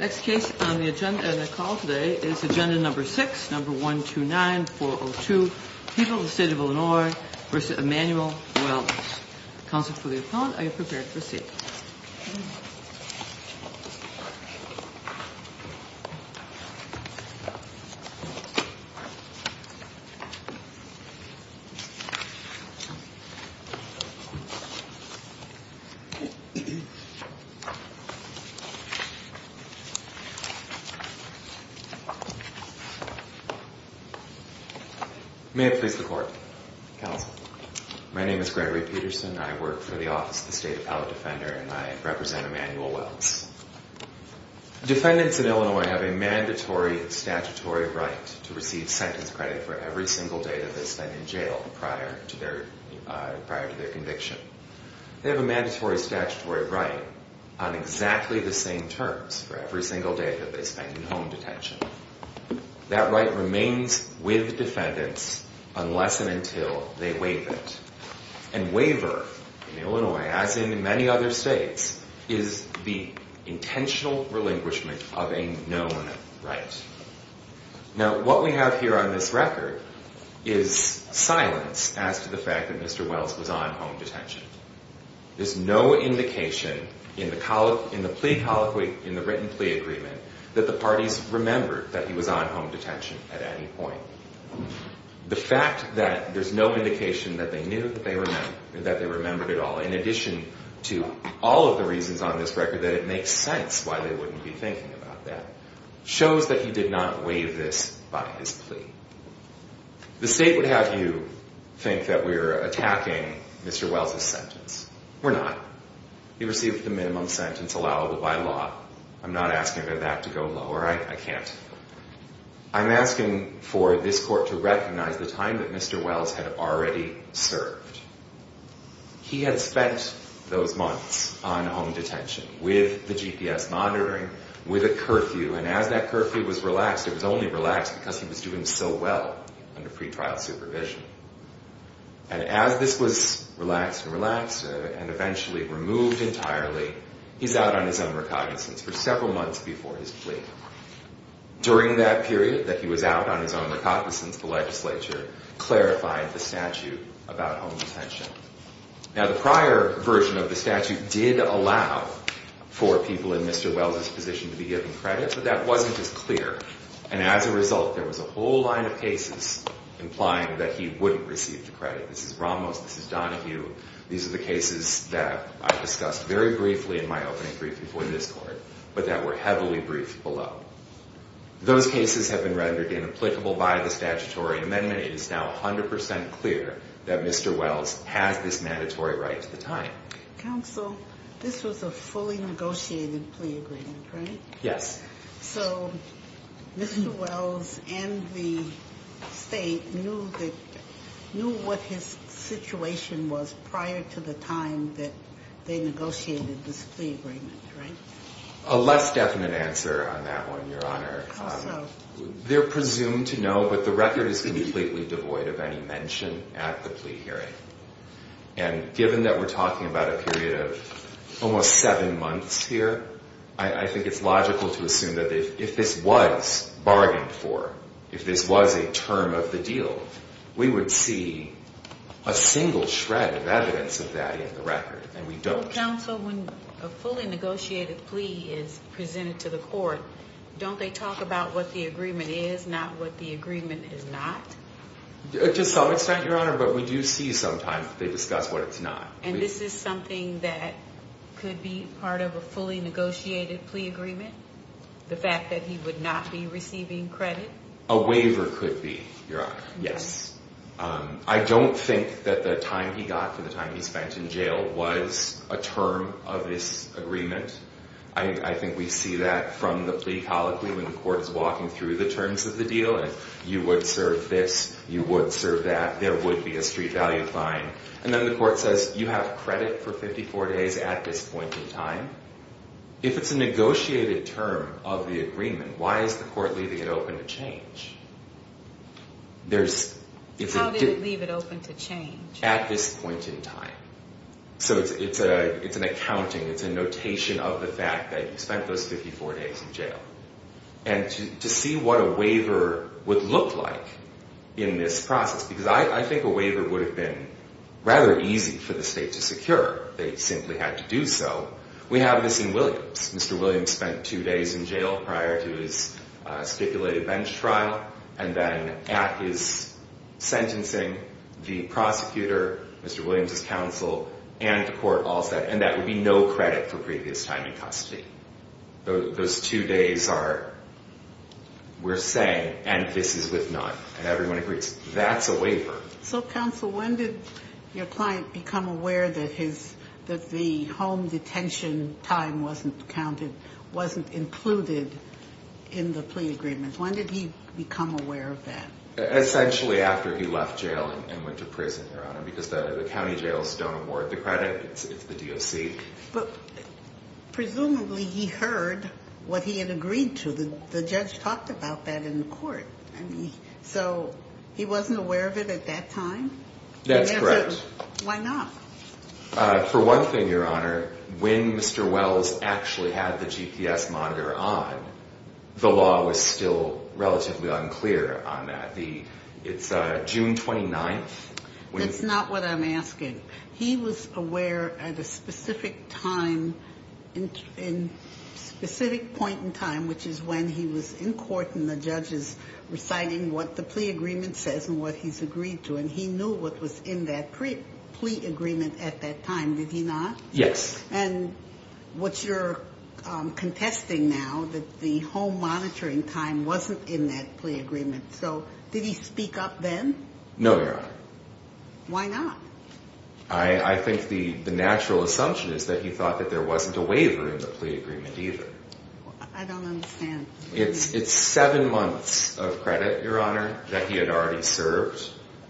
Next case on the agenda and the call today is agenda number 6, number 129-402, People of the State of Illinois v. Emmanuel Wells. Counsel for the opponent, are you prepared to proceed? May it please the court. Counsel. My name is Gregory Peterson. I work for the office of the State Appellate Defender and I represent Emmanuel Wells. Defendants in Illinois have a mandatory statutory right to receive sentence credit for every single day that they spend in jail prior to their conviction. They have a mandatory statutory right on exactly the same terms for every single day that they spend in home detention. That right remains with defendants unless and until they waive it. And waiver in Illinois, as in many other states, is the intentional relinquishment of a known right. Now, what we have here on this record is silence as to the fact that Mr. Wells was on home detention. There's no indication in the plea colloquy, in the written plea agreement, that the parties remembered that he was on home detention at any point. The fact that there's no indication that they knew that they remembered at all, in addition to all of the reasons on this record that it makes sense why they wouldn't be thinking about that, shows that he did not waive this by his plea. The state would have you think that we're attacking Mr. Wells' sentence. We're not. He received the minimum sentence allowable by law. I'm not asking for that to go lower. I can't. I'm asking for this court to recognize the time that Mr. Wells had already served. He had spent those months on home detention with the GPS monitoring, with a curfew. And as that curfew was relaxed, it was only relaxed because he was doing so well under pretrial supervision. And as this was relaxed and relaxed and eventually removed entirely, he's out on his own recognizance for several months before his plea. During that period that he was out on his own recognizance, the legislature clarified the statute about home detention. Now, the prior version of the statute did allow for people in Mr. Wells' position to be given credit, but that wasn't as clear. And as a result, there was a whole line of cases implying that he wouldn't receive the credit. This is Ramos. This is Donahue. These are the cases that I discussed very briefly in my opening briefing for this court, but that were heavily briefed below. Those cases have been rendered inapplicable by the statutory amendment. It is now 100 percent clear that Mr. Wells has this mandatory right to the time. Counsel, this was a fully negotiated plea agreement, right? Yes. So Mr. Wells and the State knew what his situation was prior to the time that they negotiated this plea agreement, right? A less definite answer on that one, Your Honor. Also. They're presumed to know, but the record is completely devoid of any mention at the plea hearing. And given that we're talking about a period of almost seven months here, I think it's logical to assume that if this was bargained for, if this was a term of the deal, we would see a single shred of evidence of that in the record, and we don't. Counsel, when a fully negotiated plea is presented to the court, don't they talk about what the agreement is, not what the agreement is not? To some extent, Your Honor, but we do see sometimes they discuss what it's not. And this is something that could be part of a fully negotiated plea agreement? The fact that he would not be receiving credit? A waiver could be, Your Honor, yes. I don't think that the time he got for the time he spent in jail was a term of this agreement. I think we see that from the plea colloquy when the court is walking through the terms of the deal. You would serve this, you would serve that, there would be a street value fine. And then the court says, you have credit for 54 days at this point in time. If it's a negotiated term of the agreement, why is the court leaving it open to change? How did it leave it open to change? At this point in time. So it's an accounting, it's a notation of the fact that he spent those 54 days in jail. And to see what a waiver would look like in this process, because I think a waiver would have been rather easy for the state to secure. They simply had to do so. We have this in Williams. Mr. Williams spent two days in jail prior to his stipulated bench trial. And then at his sentencing, the prosecutor, Mr. Williams' counsel, and the court all said, and that would be no credit for previous time in custody. Those two days are, we're saying, and this is with none. And everyone agrees, that's a waiver. So, counsel, when did your client become aware that his, that the home detention time wasn't counted, wasn't included in the plea agreement? When did he become aware of that? Essentially after he left jail and went to prison, Your Honor. Because the county jails don't award the credit, it's the DOC. But presumably he heard what he had agreed to. The judge talked about that in court. So, he wasn't aware of it at that time? That's correct. Why not? For one thing, Your Honor, when Mr. Wells actually had the GPS monitor on, the law was still relatively unclear on that. It's June 29th. That's not what I'm asking. He was aware at a specific time, in a specific point in time, which is when he was in court and the judge is reciting what the plea agreement says and what he's agreed to. And he knew what was in that plea agreement at that time, did he not? Yes. And what you're contesting now, that the home monitoring time wasn't in that plea agreement. So, did he speak up then? No, Your Honor. Why not? I think the natural assumption is that he thought that there wasn't a waiver in the plea agreement either. I don't understand. It's seven months of credit, Your Honor, that he had already served.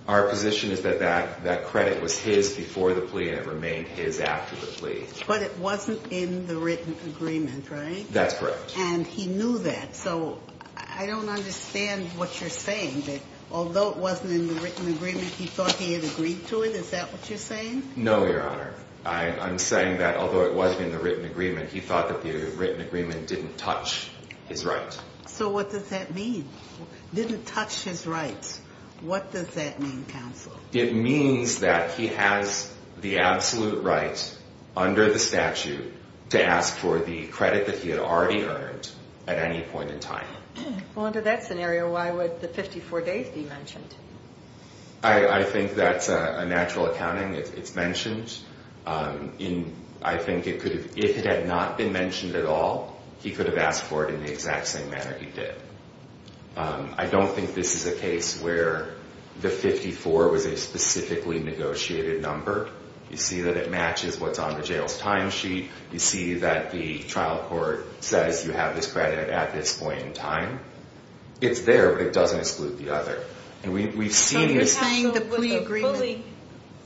Our position is that that credit was his before the plea and it remained his after the plea. But it wasn't in the written agreement, right? That's correct. And he knew that. So, I don't understand what you're saying, that although it wasn't in the written agreement, he thought he had agreed to it? Is that what you're saying? No, Your Honor. I'm saying that although it wasn't in the written agreement, he thought that the written agreement didn't touch his right. So, what does that mean? Didn't touch his right. What does that mean, counsel? It means that he has the absolute right under the statute to ask for the credit that he had already earned at any point in time. Well, under that scenario, why would the 54 days be mentioned? I think that's a natural accounting. It's mentioned. I think if it had not been mentioned at all, he could have asked for it in the exact same manner he did. I don't think this is a case where the 54 was a specifically negotiated number. You see that it matches what's on the jail's timesheet. You see that the trial court says you have this credit at this point in time. It's there, but it doesn't exclude the other. And we've seen this. So, you're saying the plea agreement...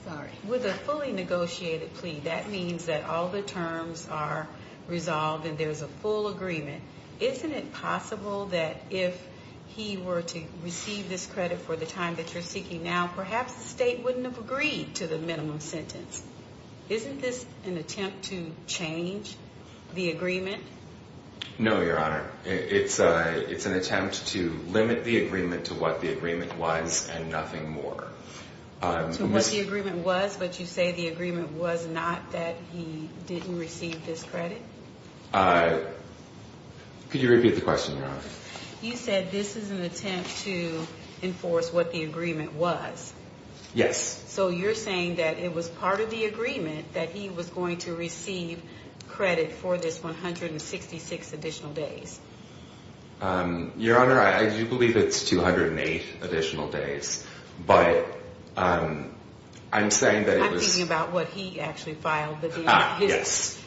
Sorry. With a fully negotiated plea, that means that all the terms are resolved and there's a full agreement. Isn't it possible that if he were to receive this credit for the time that you're seeking now, perhaps the state wouldn't have agreed to the minimum sentence? Isn't this an attempt to change the agreement? No, Your Honor. It's an attempt to limit the agreement to what the agreement was and nothing more. To what the agreement was, but you say the agreement was not that he didn't receive this credit? Could you repeat the question, Your Honor? You said this is an attempt to enforce what the agreement was. Yes. So, you're saying that it was part of the agreement that he was going to receive credit for this 166 additional days. Your Honor, I do believe it's 208 additional days, but I'm saying that it was... I'm thinking about what he actually filed. Ah, yes.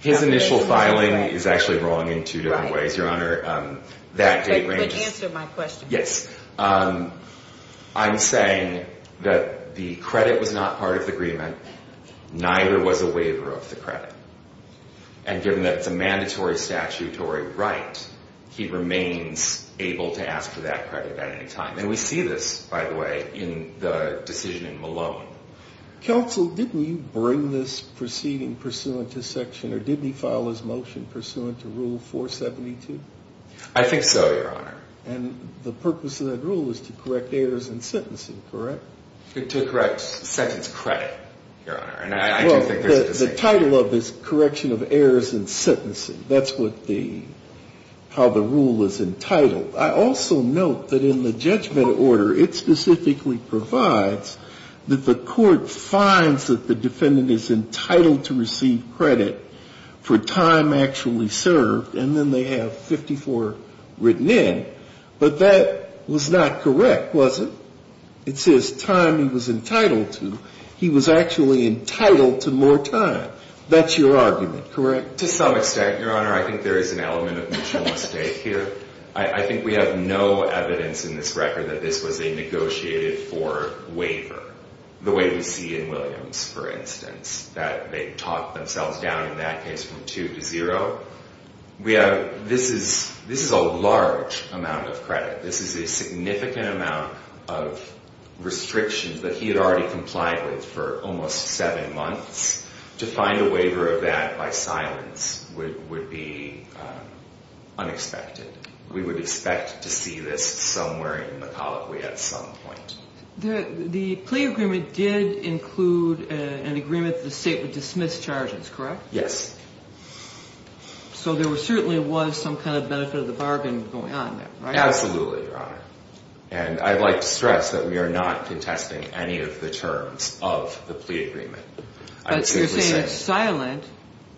His initial filing is actually wrong in two different ways, Your Honor. But answer my question. Yes. I'm saying that the credit was not part of the agreement, neither was a waiver of the credit. And given that it's a mandatory statutory right, he remains able to ask for that credit at any time. And we see this, by the way, in the decision in Malone. Counsel, didn't you bring this proceeding pursuant to section, or didn't he file his motion pursuant to Rule 472? I think so, Your Honor. And the purpose of that rule is to correct errors in sentencing, correct? To correct sentence credit, Your Honor, and I do think there's a distinction. Well, the title of this correction of errors in sentencing, that's what the, how the rule is entitled. I also note that in the judgment order, it specifically provides that the court finds that the defendant is entitled to receive credit for time actually served. And then they have 54 written in. But that was not correct, was it? It says time he was entitled to. He was actually entitled to more time. That's your argument, correct? To some extent, Your Honor. I think there is an element of mutual mistake here. I think we have no evidence in this record that this was a negotiated for waiver, the way we see in Williams, for instance, that they talked themselves down in that case from 2 to 0. We have, this is a large amount of credit. This is a significant amount of restrictions that he had already complied with for almost 7 months. To find a waiver of that by silence would be unexpected. We would expect to see this somewhere in the colloquy at some point. The plea agreement did include an agreement that the state would dismiss charges, correct? Yes. So there certainly was some kind of benefit of the bargain going on there, right? Absolutely, Your Honor. And I'd like to stress that we are not contesting any of the terms of the plea agreement. But you're saying it's silent.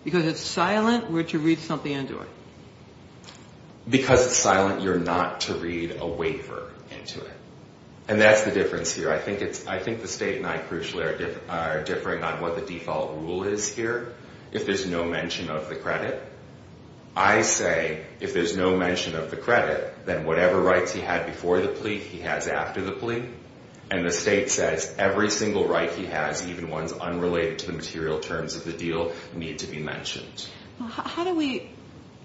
Because it's silent, we're to read something into it. Because it's silent, you're not to read a waiver into it. And that's the difference here. I think the state and I crucially are differing on what the default rule is here, if there's no mention of the credit. I say if there's no mention of the credit, then whatever rights he had before the plea, he has after the plea. And the state says every single right he has, even ones unrelated to the material terms of the deal, need to be mentioned. How do we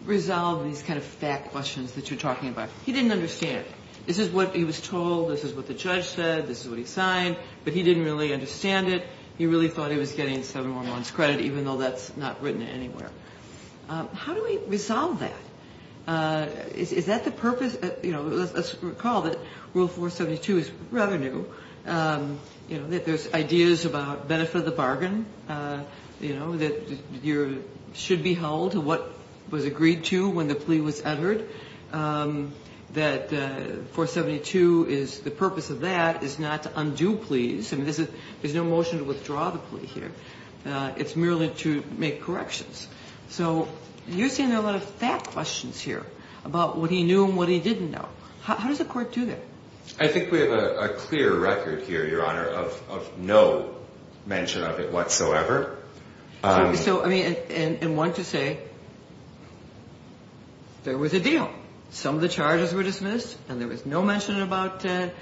resolve these kind of fact questions that you're talking about? He didn't understand. This is what he was told. This is what the judge said. This is what he signed. But he didn't really understand it. He really thought he was getting 711's credit, even though that's not written anywhere. How do we resolve that? Is that the purpose? You know, let's recall that Rule 472 is rather new. You know, there's ideas about benefit of the bargain, you know, that you should be held to what was agreed to when the plea was entered. That 472 is the purpose of that is not to undo pleas. I mean, there's no motion to withdraw the plea here. It's merely to make corrections. So you're seeing a lot of fact questions here about what he knew and what he didn't know. How does the court do that? I think we have a clear record here, Your Honor, of no mention of it whatsoever. So, I mean, and one could say there was a deal. Some of the charges were dismissed, and there was no mention about the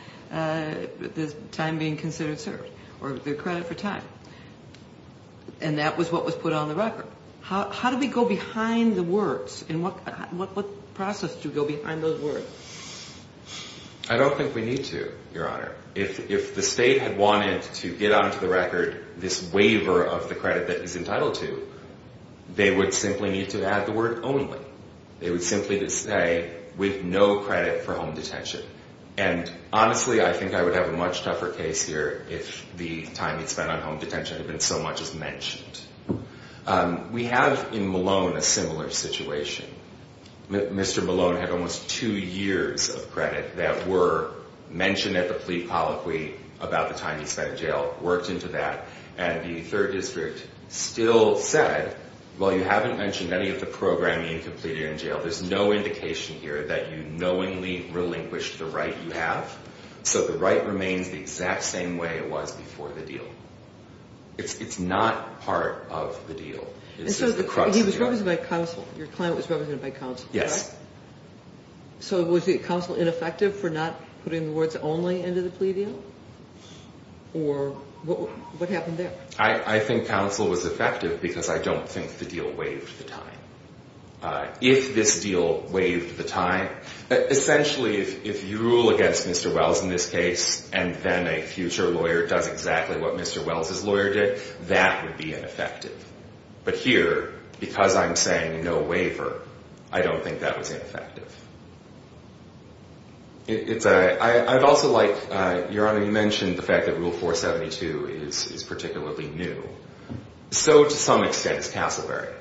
time being considered served or the credit for time. And that was what was put on the record. How do we go behind the words? And what process do we go behind those words? I don't think we need to, Your Honor. If the state had wanted to get onto the record this waiver of the credit that he's entitled to, they would simply need to add the word only. They would simply just say, with no credit for home detention. And honestly, I think I would have a much tougher case here if the time he'd spent on home detention had been so much as mentioned. We have in Malone a similar situation. Mr. Malone had almost two years of credit that were mentioned at the plea polyphy about the time he spent in jail, worked into that. And the third district still said, well, you haven't mentioned any of the programming completed in jail. There's no indication here that you knowingly relinquished the right you have. So the right remains the exact same way it was before the deal. It's not part of the deal. It's just the crux of the deal. And so he was represented by counsel. Your client was represented by counsel. Yes. So was the counsel ineffective for not putting the words only into the plea deal? Or what happened there? I think counsel was effective because I don't think the deal waived the time. If this deal waived the time, essentially, if you rule against Mr. Wells in this case and then a future lawyer does exactly what Mr. Wells' lawyer did, that would be ineffective. But here, because I'm saying no waiver, I don't think that was ineffective. I'd also like, Your Honor, you mentioned the fact that Rule 472 is particularly new. So, to some extent, is Castleberry.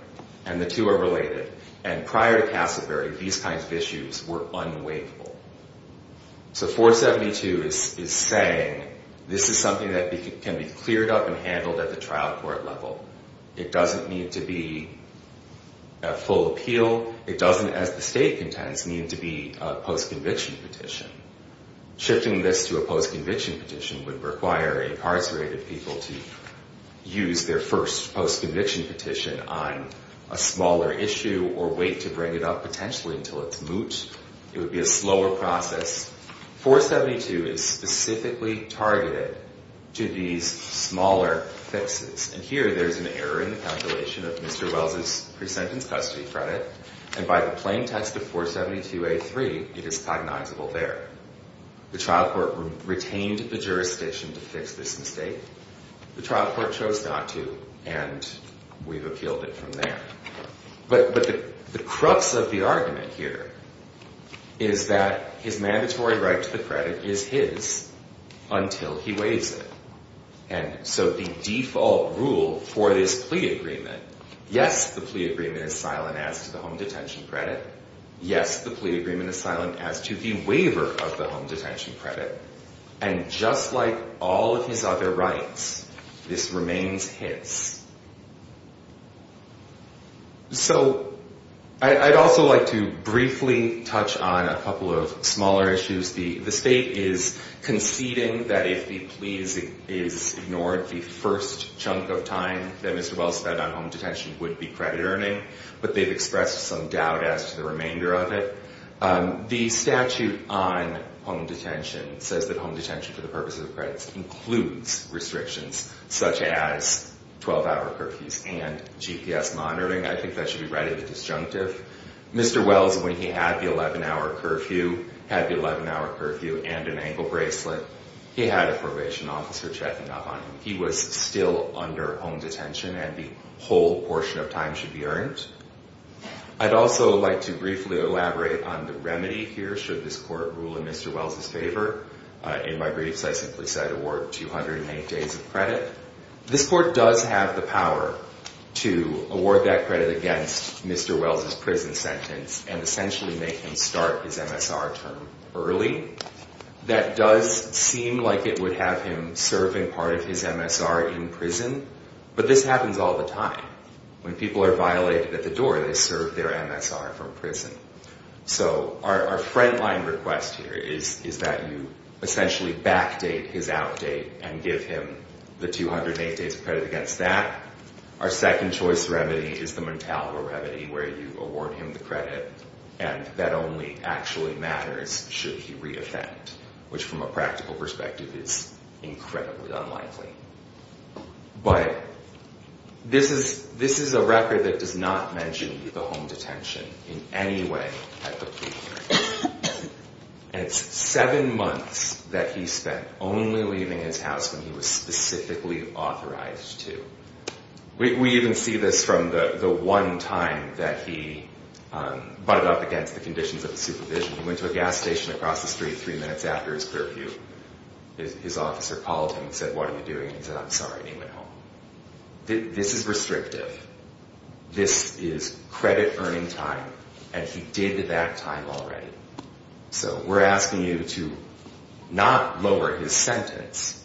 And the two are related. And prior to Castleberry, these kinds of issues were unwaiveable. So 472 is saying this is something that can be cleared up and handled at the trial court level. It doesn't need to be a full appeal. It doesn't, as the State contends, need to be a post-conviction petition. Shifting this to a post-conviction petition would require incarcerated people to use their first post-conviction petition on a smaller issue or wait to bring it up potentially until it's moot. It would be a slower process. 472 is specifically targeted to these smaller fixes. And here, there's an error in the calculation of Mr. Wells' pre-sentence custody credit. And by the plain text of 472A3, it is cognizable there. The trial court retained the jurisdiction to fix this mistake. The trial court chose not to. And we've appealed it from there. But the crux of the argument here is that his mandatory right to the credit is his until he waives it. And so the default rule for this plea agreement, yes, the plea agreement is silent as to the home detention credit. Yes, the plea agreement is silent as to the waiver of the home detention credit. And just like all of his other rights, this remains his. So I'd also like to briefly touch on a couple of smaller issues. The state is conceding that if the plea is ignored, the first chunk of time that Mr. Wells spent on home detention would be credit earning. But they've expressed some doubt as to the remainder of it. The statute on home detention says that home detention for the purposes of credits includes restrictions such as 12-hour curfews and GPS monitoring. I think that should be readied as disjunctive. Mr. Wells, when he had the 11-hour curfew, had the 11-hour curfew and an ankle bracelet. He had a probation officer checking up on him. He was still under home detention, and the whole portion of time should be earned. I'd also like to briefly elaborate on the remedy here, should this court rule in Mr. Wells' favor. In my briefs, I simply said award 208 days of credit. This court does have the power to award that credit against Mr. Wells' prison sentence and essentially make him start his MSR term early. That does seem like it would have him serving part of his MSR in prison, but this happens all the time. When people are violated at the door, they serve their MSR from prison. So our front-line request here is that you essentially backdate his outdate and give him the 208 days of credit against that. Our second-choice remedy is the Montalvo remedy, where you award him the credit, and that only actually matters should he re-offend, which from a practical perspective is incredibly unlikely. But this is a record that does not mention the home detention in any way at the plea hearing. And it's seven months that he spent only leaving his house when he was specifically authorized to. We even see this from the one time that he butted up against the conditions of the supervision. He went to a gas station across the street three minutes after his curfew. His officer called him and said, what are you doing? He said, I'm sorry, and he went home. This is restrictive. This is credit-earning time, and he did that time already. So we're asking you to not lower his sentence,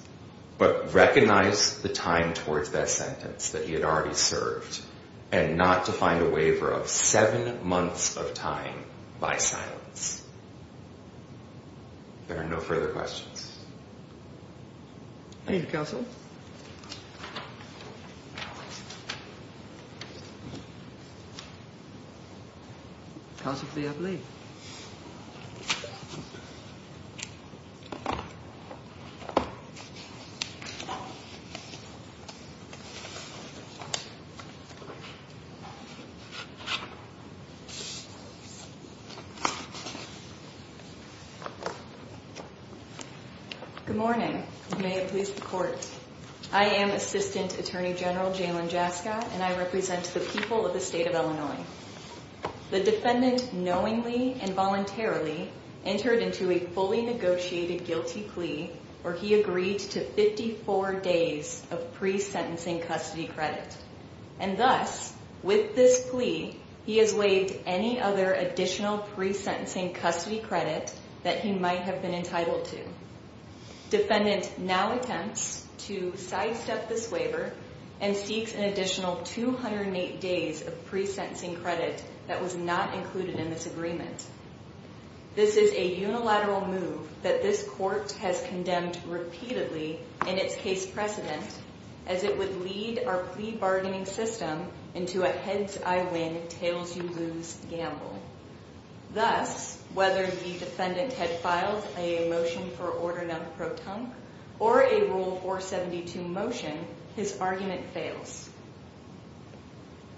but recognize the time towards that sentence that he had already served, and not to find a waiver of seven months of time by silence. If there are no further questions. Thank you, counsel. Counsel for the oblate. Good morning. May it please the court. I am Assistant Attorney General Jalen Jaska, and I represent the people of the state of Illinois. The defendant knowingly and voluntarily entered into a fully negotiated guilty plea where he agreed to 54 days of pre-sentencing custody credit. And thus, with this plea, he has waived any other additional pre-sentencing custody credit. That he might have been entitled to. Defendant now attempts to sidestep this waiver, and seeks an additional 208 days of pre-sentencing credit that was not included in this agreement. This is a unilateral move that this court has condemned repeatedly in its case precedent, as it would lead our plea bargaining system into a heads-I-win, tails-you-lose gamble. Thus, whether the defendant had filed a motion for order nunc pro tump, or a Rule 472 motion, his argument fails.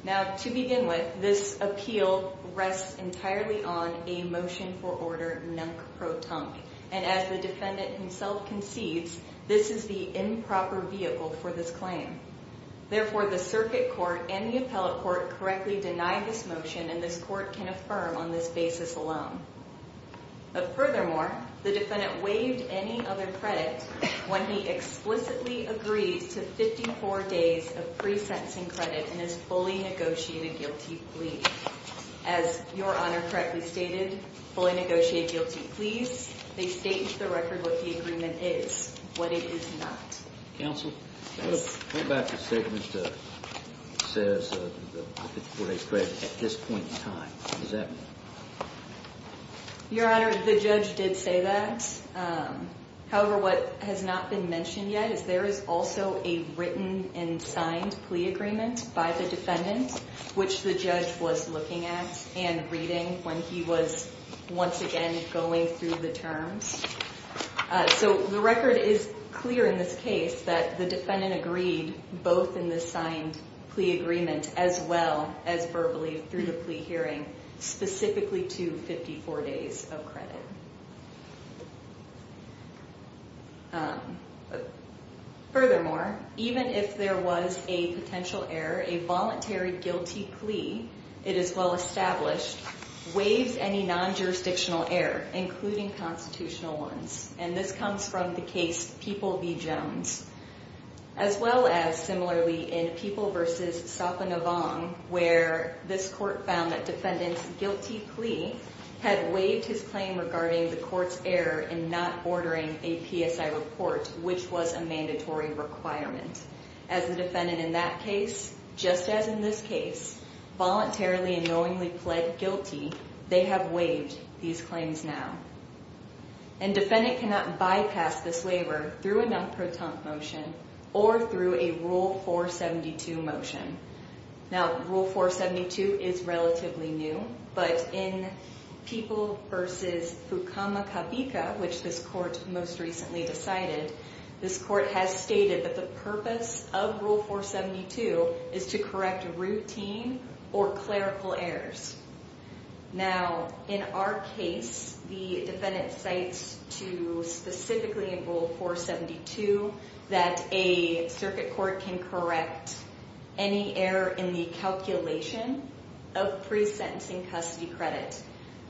Now, to begin with, this appeal rests entirely on a motion for order nunc pro tump. And as the defendant himself concedes, this is the improper vehicle for this claim. Therefore, the circuit court and the appellate court correctly deny this motion, and this court can affirm on this basis alone. But furthermore, the defendant waived any other credit when he explicitly agreed to 54 days of pre-sentencing credit, and has fully negotiated guilty plea. As Your Honor correctly stated, fully negotiated guilty pleas, they state into the record what the agreement is, what it is not. Counsel? Yes. What about the statement that says 54 days credit at this point in time? What does that mean? Your Honor, the judge did say that. However, what has not been mentioned yet is there is also a written and signed plea agreement by the defendant, which the judge was looking at and reading when he was once again going through the terms. So the record is clear in this case that the defendant agreed both in the signed plea agreement as well as verbally through the plea hearing specifically to 54 days of credit. Furthermore, even if there was a potential error, a voluntary guilty plea, it is well established, waives any non-jurisdictional error, including constitutional ones. And this comes from the case People v. Jones, as well as similarly in People v. Sopanavong, where this court found that defendant's guilty plea had waived his claim regarding the court's error in not ordering a PSI report, which was a mandatory requirement. As the defendant in that case, just as in this case, voluntarily and knowingly pled guilty, they have waived these claims now. And defendant cannot bypass this waiver through a non-proton motion or through a Rule 472 motion. Now, Rule 472 is relatively new, but in People v. Fukamakavika, which this court most recently decided, this court has stated that the purpose of Rule 472 is to correct routine or clerical errors. Now, in our case, the defendant cites to specifically in Rule 472 that a circuit court can correct any error in the calculation of pre-sentencing custody credit.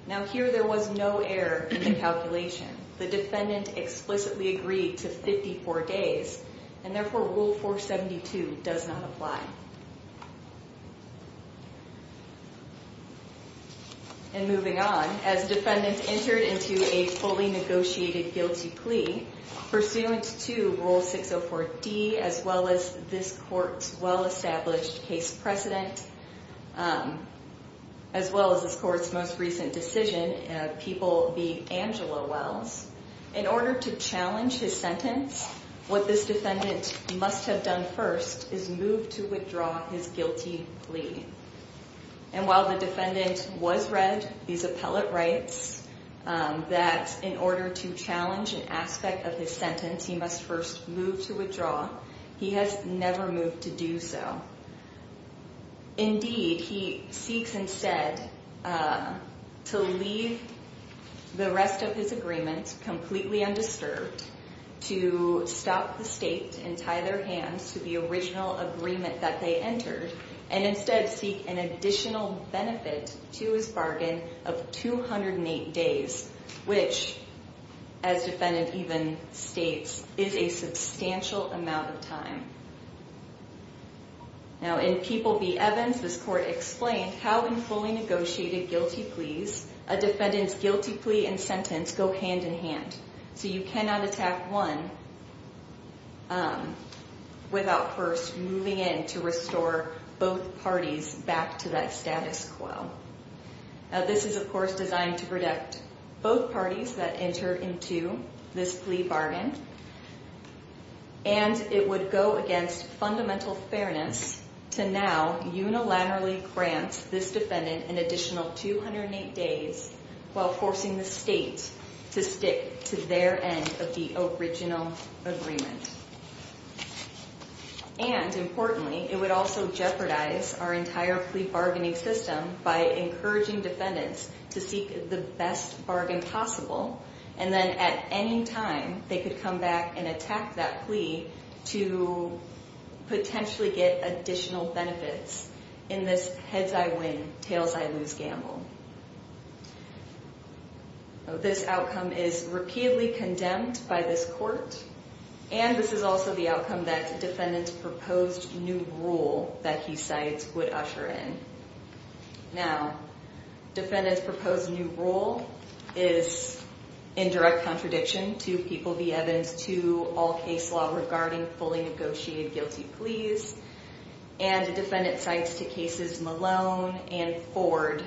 Now, here there was no error in the calculation. The defendant explicitly agreed to 54 days, and therefore Rule 472 does not apply. And moving on, as defendant entered into a fully negotiated guilty plea, pursuant to Rule 604D, as well as this court's well-established case precedent, as well as this court's most recent decision, People v. Angela Wells, in order to challenge his sentence, what this defendant must have done first is move to withdraw his guilty plea. And while the defendant was read these appellate rights, that in order to challenge an aspect of his sentence, he must first move to withdraw, he has never moved to do so. Indeed, he seeks instead to leave the rest of his agreement completely undisturbed, to stop the state and tie their hands to the original agreement that they entered, and instead seek an additional benefit to his bargain of 208 days, which, as defendant even states, is a substantial amount of time. Now, in People v. Evans, this court explained how in fully negotiated guilty pleas, a defendant's guilty plea and sentence go hand in hand. So you cannot attack one without first moving in to restore both parties back to that status quo. Now, this is, of course, designed to protect both parties that entered into this plea bargain, and it would go against fundamental fairness to now unilaterally grant this defendant an additional 208 days while forcing the state to stick to their end of the original agreement. And importantly, it would also jeopardize our entire plea bargaining system by encouraging defendants to seek the best bargain possible, and then at any time, they could come back and attack that plea to potentially get additional benefits in this heads-I-win, tails-I-lose gamble. This outcome is repeatedly condemned by this court, and this is also the outcome that defendant's proposed new rule that he cites would usher in. Now, defendant's proposed new rule is in direct contradiction to People v. Evans, to all case law regarding fully negotiated guilty pleas, and the defendant cites to cases Malone and Ford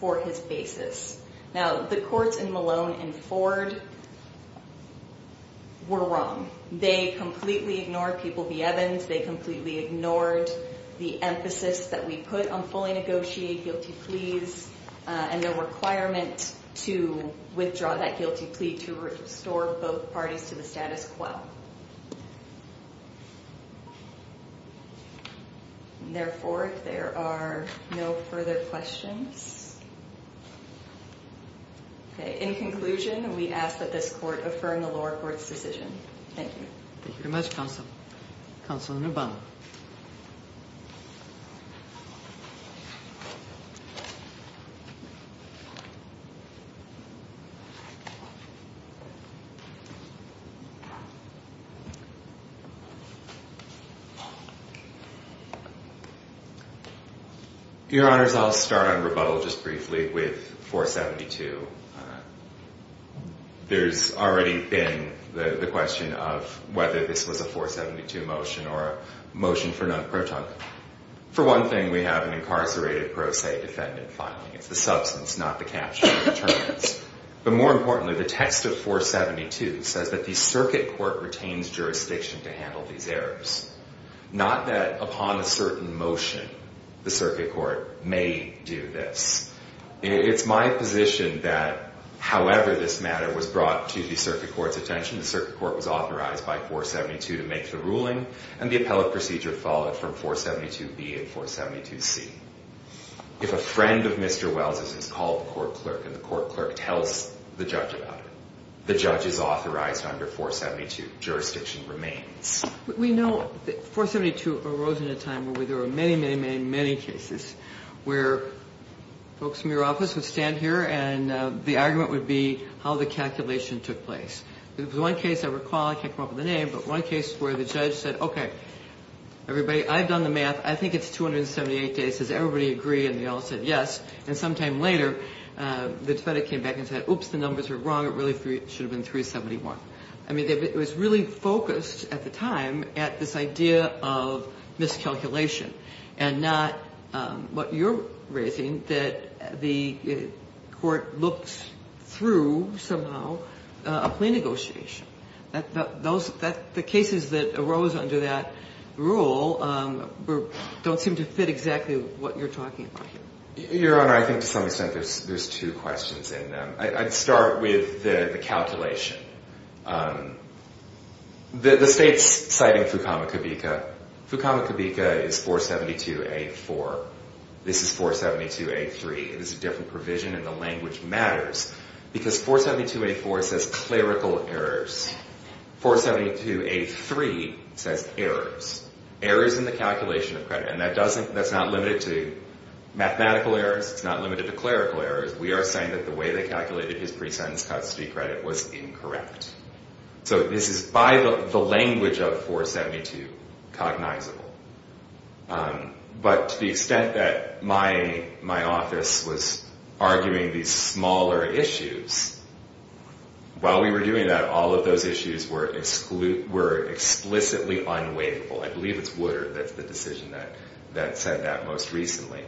for his basis. Now, the courts in Malone and Ford were wrong. They completely ignored People v. Evans. They completely ignored the emphasis that we put on fully negotiated guilty pleas and the requirement to withdraw that guilty plea to restore both parties to the status quo. And therefore, there are no further questions. Okay, in conclusion, we ask that this court affirm the lower court's decision. Thank you. Thank you very much, Counsel. Counsel in rebuttal. Your Honors, I'll start on rebuttal just briefly with 472. There's already been the question of whether this was a 472 motion or a motion for non-protocol. For one thing, we have an incarcerated pro se defendant filing. It's the substance, not the capture of the determinants. But more importantly, the text of 472 says that the circuit court retains jurisdiction to handle these errors, not that upon a certain motion the circuit court may do this. It's my position that however this matter was brought to the circuit court's attention, the circuit court was authorized by 472 to make the ruling, and the appellate procedure followed from 472B and 472C. If a friend of Mr. Wells' is called the court clerk and the court clerk tells the judge about it, the judge is authorized under 472. Jurisdiction remains. We know 472 arose in a time where there were many, many, many, many cases where folks from your office would stand here and the argument would be how the calculation took place. There was one case I recall, I can't come up with a name, but one case where the judge said, okay, everybody, I've done the math, I think it's 278 days. Does everybody agree? And they all said yes. And sometime later, the defendant came back and said, oops, the numbers are wrong. It really should have been 371. I mean, it was really focused at the time at this idea of miscalculation and not what you're raising, that the court looked through somehow a plea negotiation. The cases that arose under that rule don't seem to fit exactly what you're talking about here. Your Honor, I think to some extent there's two questions in them. I'd start with the calculation. The state's citing Fukamakibika. Fukamakibika is 472A4. This is 472A3. It is a different provision and the language matters because 472A4 says clerical errors. 472A3 says errors, errors in the calculation of credit. And that's not limited to mathematical errors. It's not limited to clerical errors. We are saying that the way they calculated his pre-sentence custody credit was incorrect. So this is by the language of 472 cognizable. But to the extent that my office was arguing these smaller issues, while we were doing that, all of those issues were explicitly unwaivable. I believe it's Woodard that's the decision that said that most recently.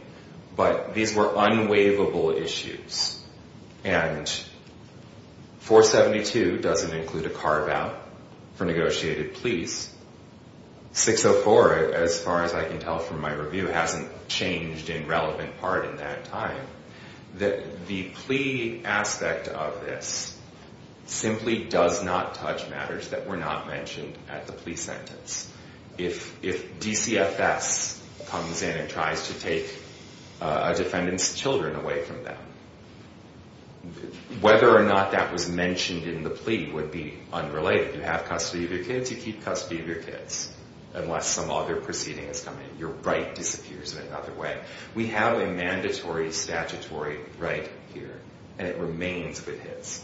But these were unwaivable issues. And 472 doesn't include a carve-out for negotiated pleas. 604, as far as I can tell from my review, hasn't changed in relevant part in that time. The plea aspect of this simply does not touch matters that were not mentioned at the plea sentence. If DCFS comes in and tries to take a defendant's children away from them, whether or not that was mentioned in the plea would be unrelated. You have custody of your kids, you keep custody of your kids. Unless some other proceeding is coming. Your right disappears in another way. We have a mandatory statutory right here. And it remains with his.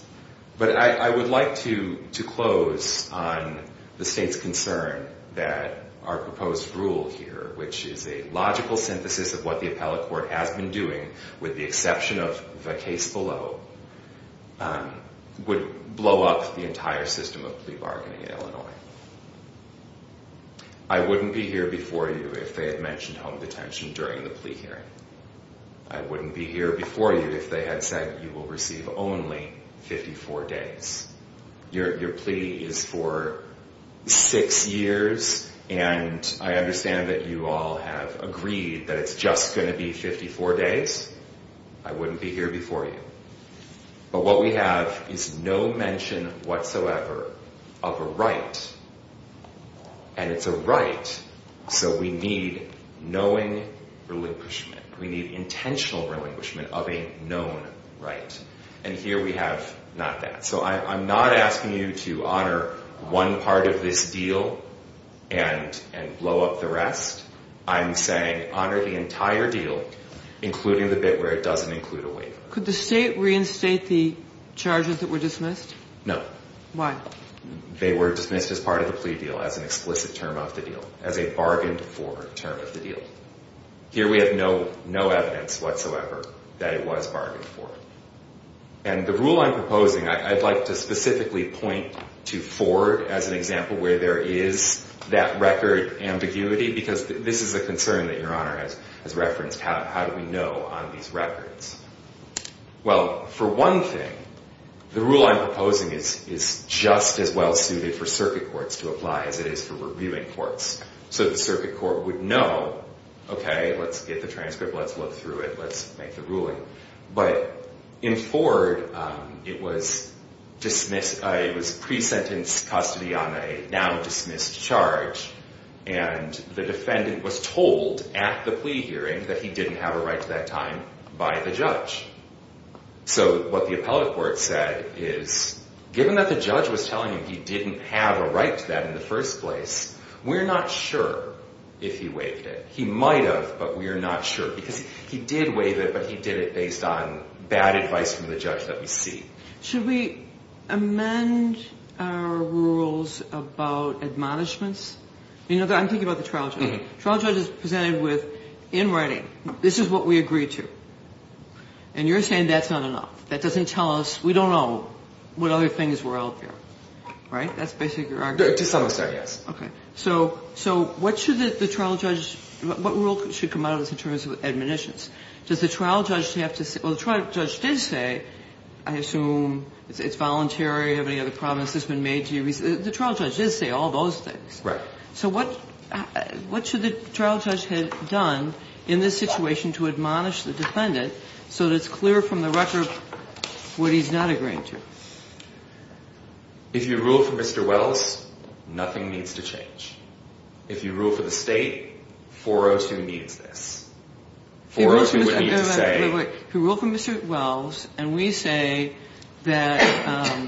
But I would like to close on the state's concern that our proposed rule here, which is a logical synthesis of what the appellate court has been doing, with the exception of the case below, would blow up the entire system of plea bargaining in Illinois. I wouldn't be here before you if they had mentioned home detention during the plea hearing. I wouldn't be here before you if they had said you will receive only 54 days. Your plea is for six years, and I understand that you all have agreed that it's just going to be 54 days. I wouldn't be here before you. But what we have is no mention whatsoever of a right. And it's a right. So we need knowing relinquishment. We need intentional relinquishment of a known right. And here we have not that. So I'm not asking you to honor one part of this deal and blow up the rest. I'm saying honor the entire deal, including the bit where it doesn't include a waiver. Could the state reinstate the charges that were dismissed? No. Why? They were dismissed as part of the plea deal, as an explicit term of the deal, as a bargained-for term of the deal. Here we have no evidence whatsoever that it was bargained for. And the rule I'm proposing, I'd like to specifically point to Ford as an example where there is that record ambiguity, because this is a concern that Your Honor has referenced. How do we know on these records? Well, for one thing, the rule I'm proposing is just as well suited for circuit courts to apply as it is for reviewing courts. So the circuit court would know, okay, let's get the transcript, let's look through it, let's make the ruling. But in Ford, it was pre-sentence custody on a now-dismissed charge. And the defendant was told at the plea hearing that he didn't have a right to that time by the judge. So what the appellate court said is, given that the judge was telling him he didn't have a right to that in the first place, we're not sure if he waived it. He might have, but we're not sure, because he did waive it, but he did it based on bad advice from the judge that we see. Should we amend our rules about admonishments? You know, I'm thinking about the trial judge. The trial judge is presented with, in writing, this is what we agreed to. And you're saying that's not enough. That doesn't tell us, we don't know what other things were out there. Right? That's basically your argument. To some extent, yes. Okay. So what should the trial judge, what rule should come out of this in terms of admonitions? Does the trial judge have to say, well, the trial judge did say, I assume it's voluntary, have any other promises been made to you? The trial judge did say all those things. Right. So what should the trial judge have done in this situation to admonish the defendant so that it's clear from the record what he's not agreeing to? If you rule for Mr. Wells, nothing needs to change. If you rule for the state, 402 needs this. 402 would need to say. Wait, wait, wait. If you rule for Mr. Wells and we say that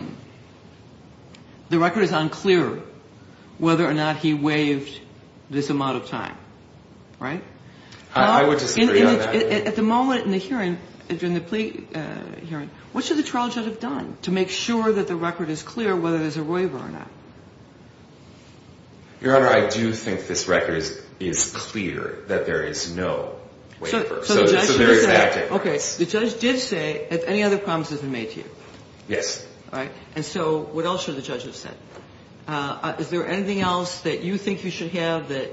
the record is unclear whether or not he waived this amount of time, right? I would disagree on that. At the moment in the hearing, during the plea hearing, what should the trial judge have done to make sure that the record is clear whether there's a waiver or not? Your Honor, I do think this record is clear that there is no waiver. So it's a very active case. Okay. The judge did say, have any other promises been made to you? Yes. All right. And so what else should the judge have said? Is there anything else that you think you should have, that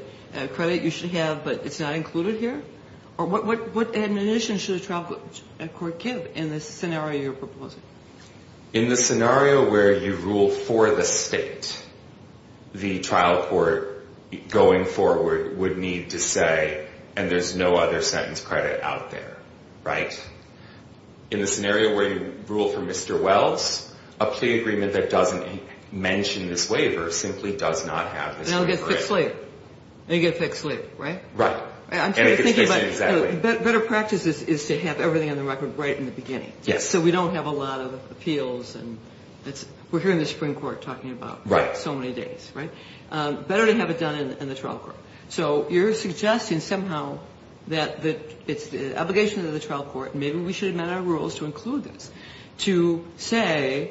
credit you should have, but it's not included here? Or what admonition should a trial court give in this scenario you're proposing? In the scenario where you rule for the state, the trial court going forward would need to say, and there's no other sentence credit out there, right? In the scenario where you rule for Mr. Wells, a plea agreement that doesn't mention this waiver simply does not have this waiver. And it gets fixed later. And it gets fixed later, right? Right. And it gets fixed in exactly. Better practice is to have everything on the record right in the beginning. Yes. So we don't have a lot of appeals. We're hearing the Supreme Court talking about so many days, right? Better to have it done in the trial court. So you're suggesting somehow that it's the obligation of the trial court, and maybe we should have met our rules to include this, to say,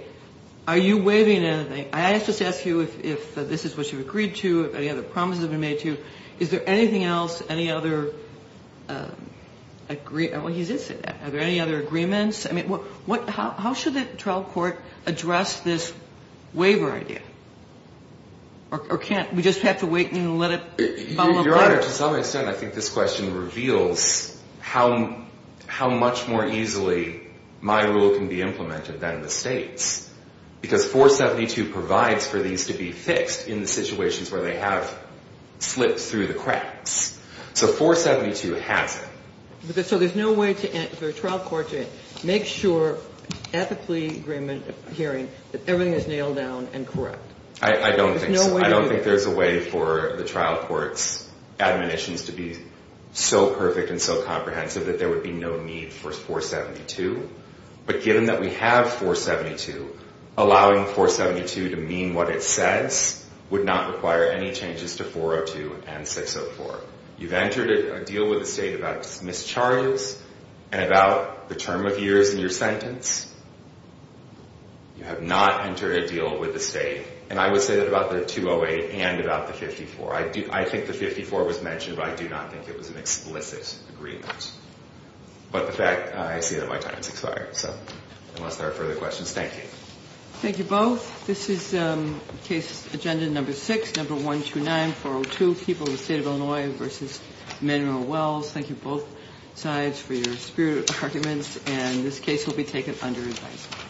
are you waiving anything? I just ask you if this is what you've agreed to, if any other promises have been made to you. Is there anything else, any other agreement? Well, he did say that. Are there any other agreements? I mean, how should the trial court address this waiver idea? Or can't we just have to wait and let it follow up later? Your Honor, to some extent, I think this question reveals how much more easily my rule can be implemented than the state's. Because 472 provides for these to be fixed in the situations where they have slipped through the cracks. So 472 has it. So there's no way for a trial court to make sure, ethically hearing, that everything is nailed down and correct. There's no way to do that. I don't think there's a way for the trial court's admonitions to be so perfect and so comprehensive that there would be no need for 472. But given that we have 472, allowing 472 to mean what it says would not require any changes to 402 and 604. You've entered a deal with the state about mischarges and about the term of years in your sentence. You have not entered a deal with the state, and I would say that about the 208 and about the 54. I think the 54 was mentioned, but I do not think it was an explicit agreement. But the fact, I see that my time has expired. So unless there are further questions, thank you. Thank you both. This is case agenda number 6, number 129, 402, People of the State of Illinois v. Manuel Wells. Thank you both sides for your spirited arguments, and this case will be taken under advisory.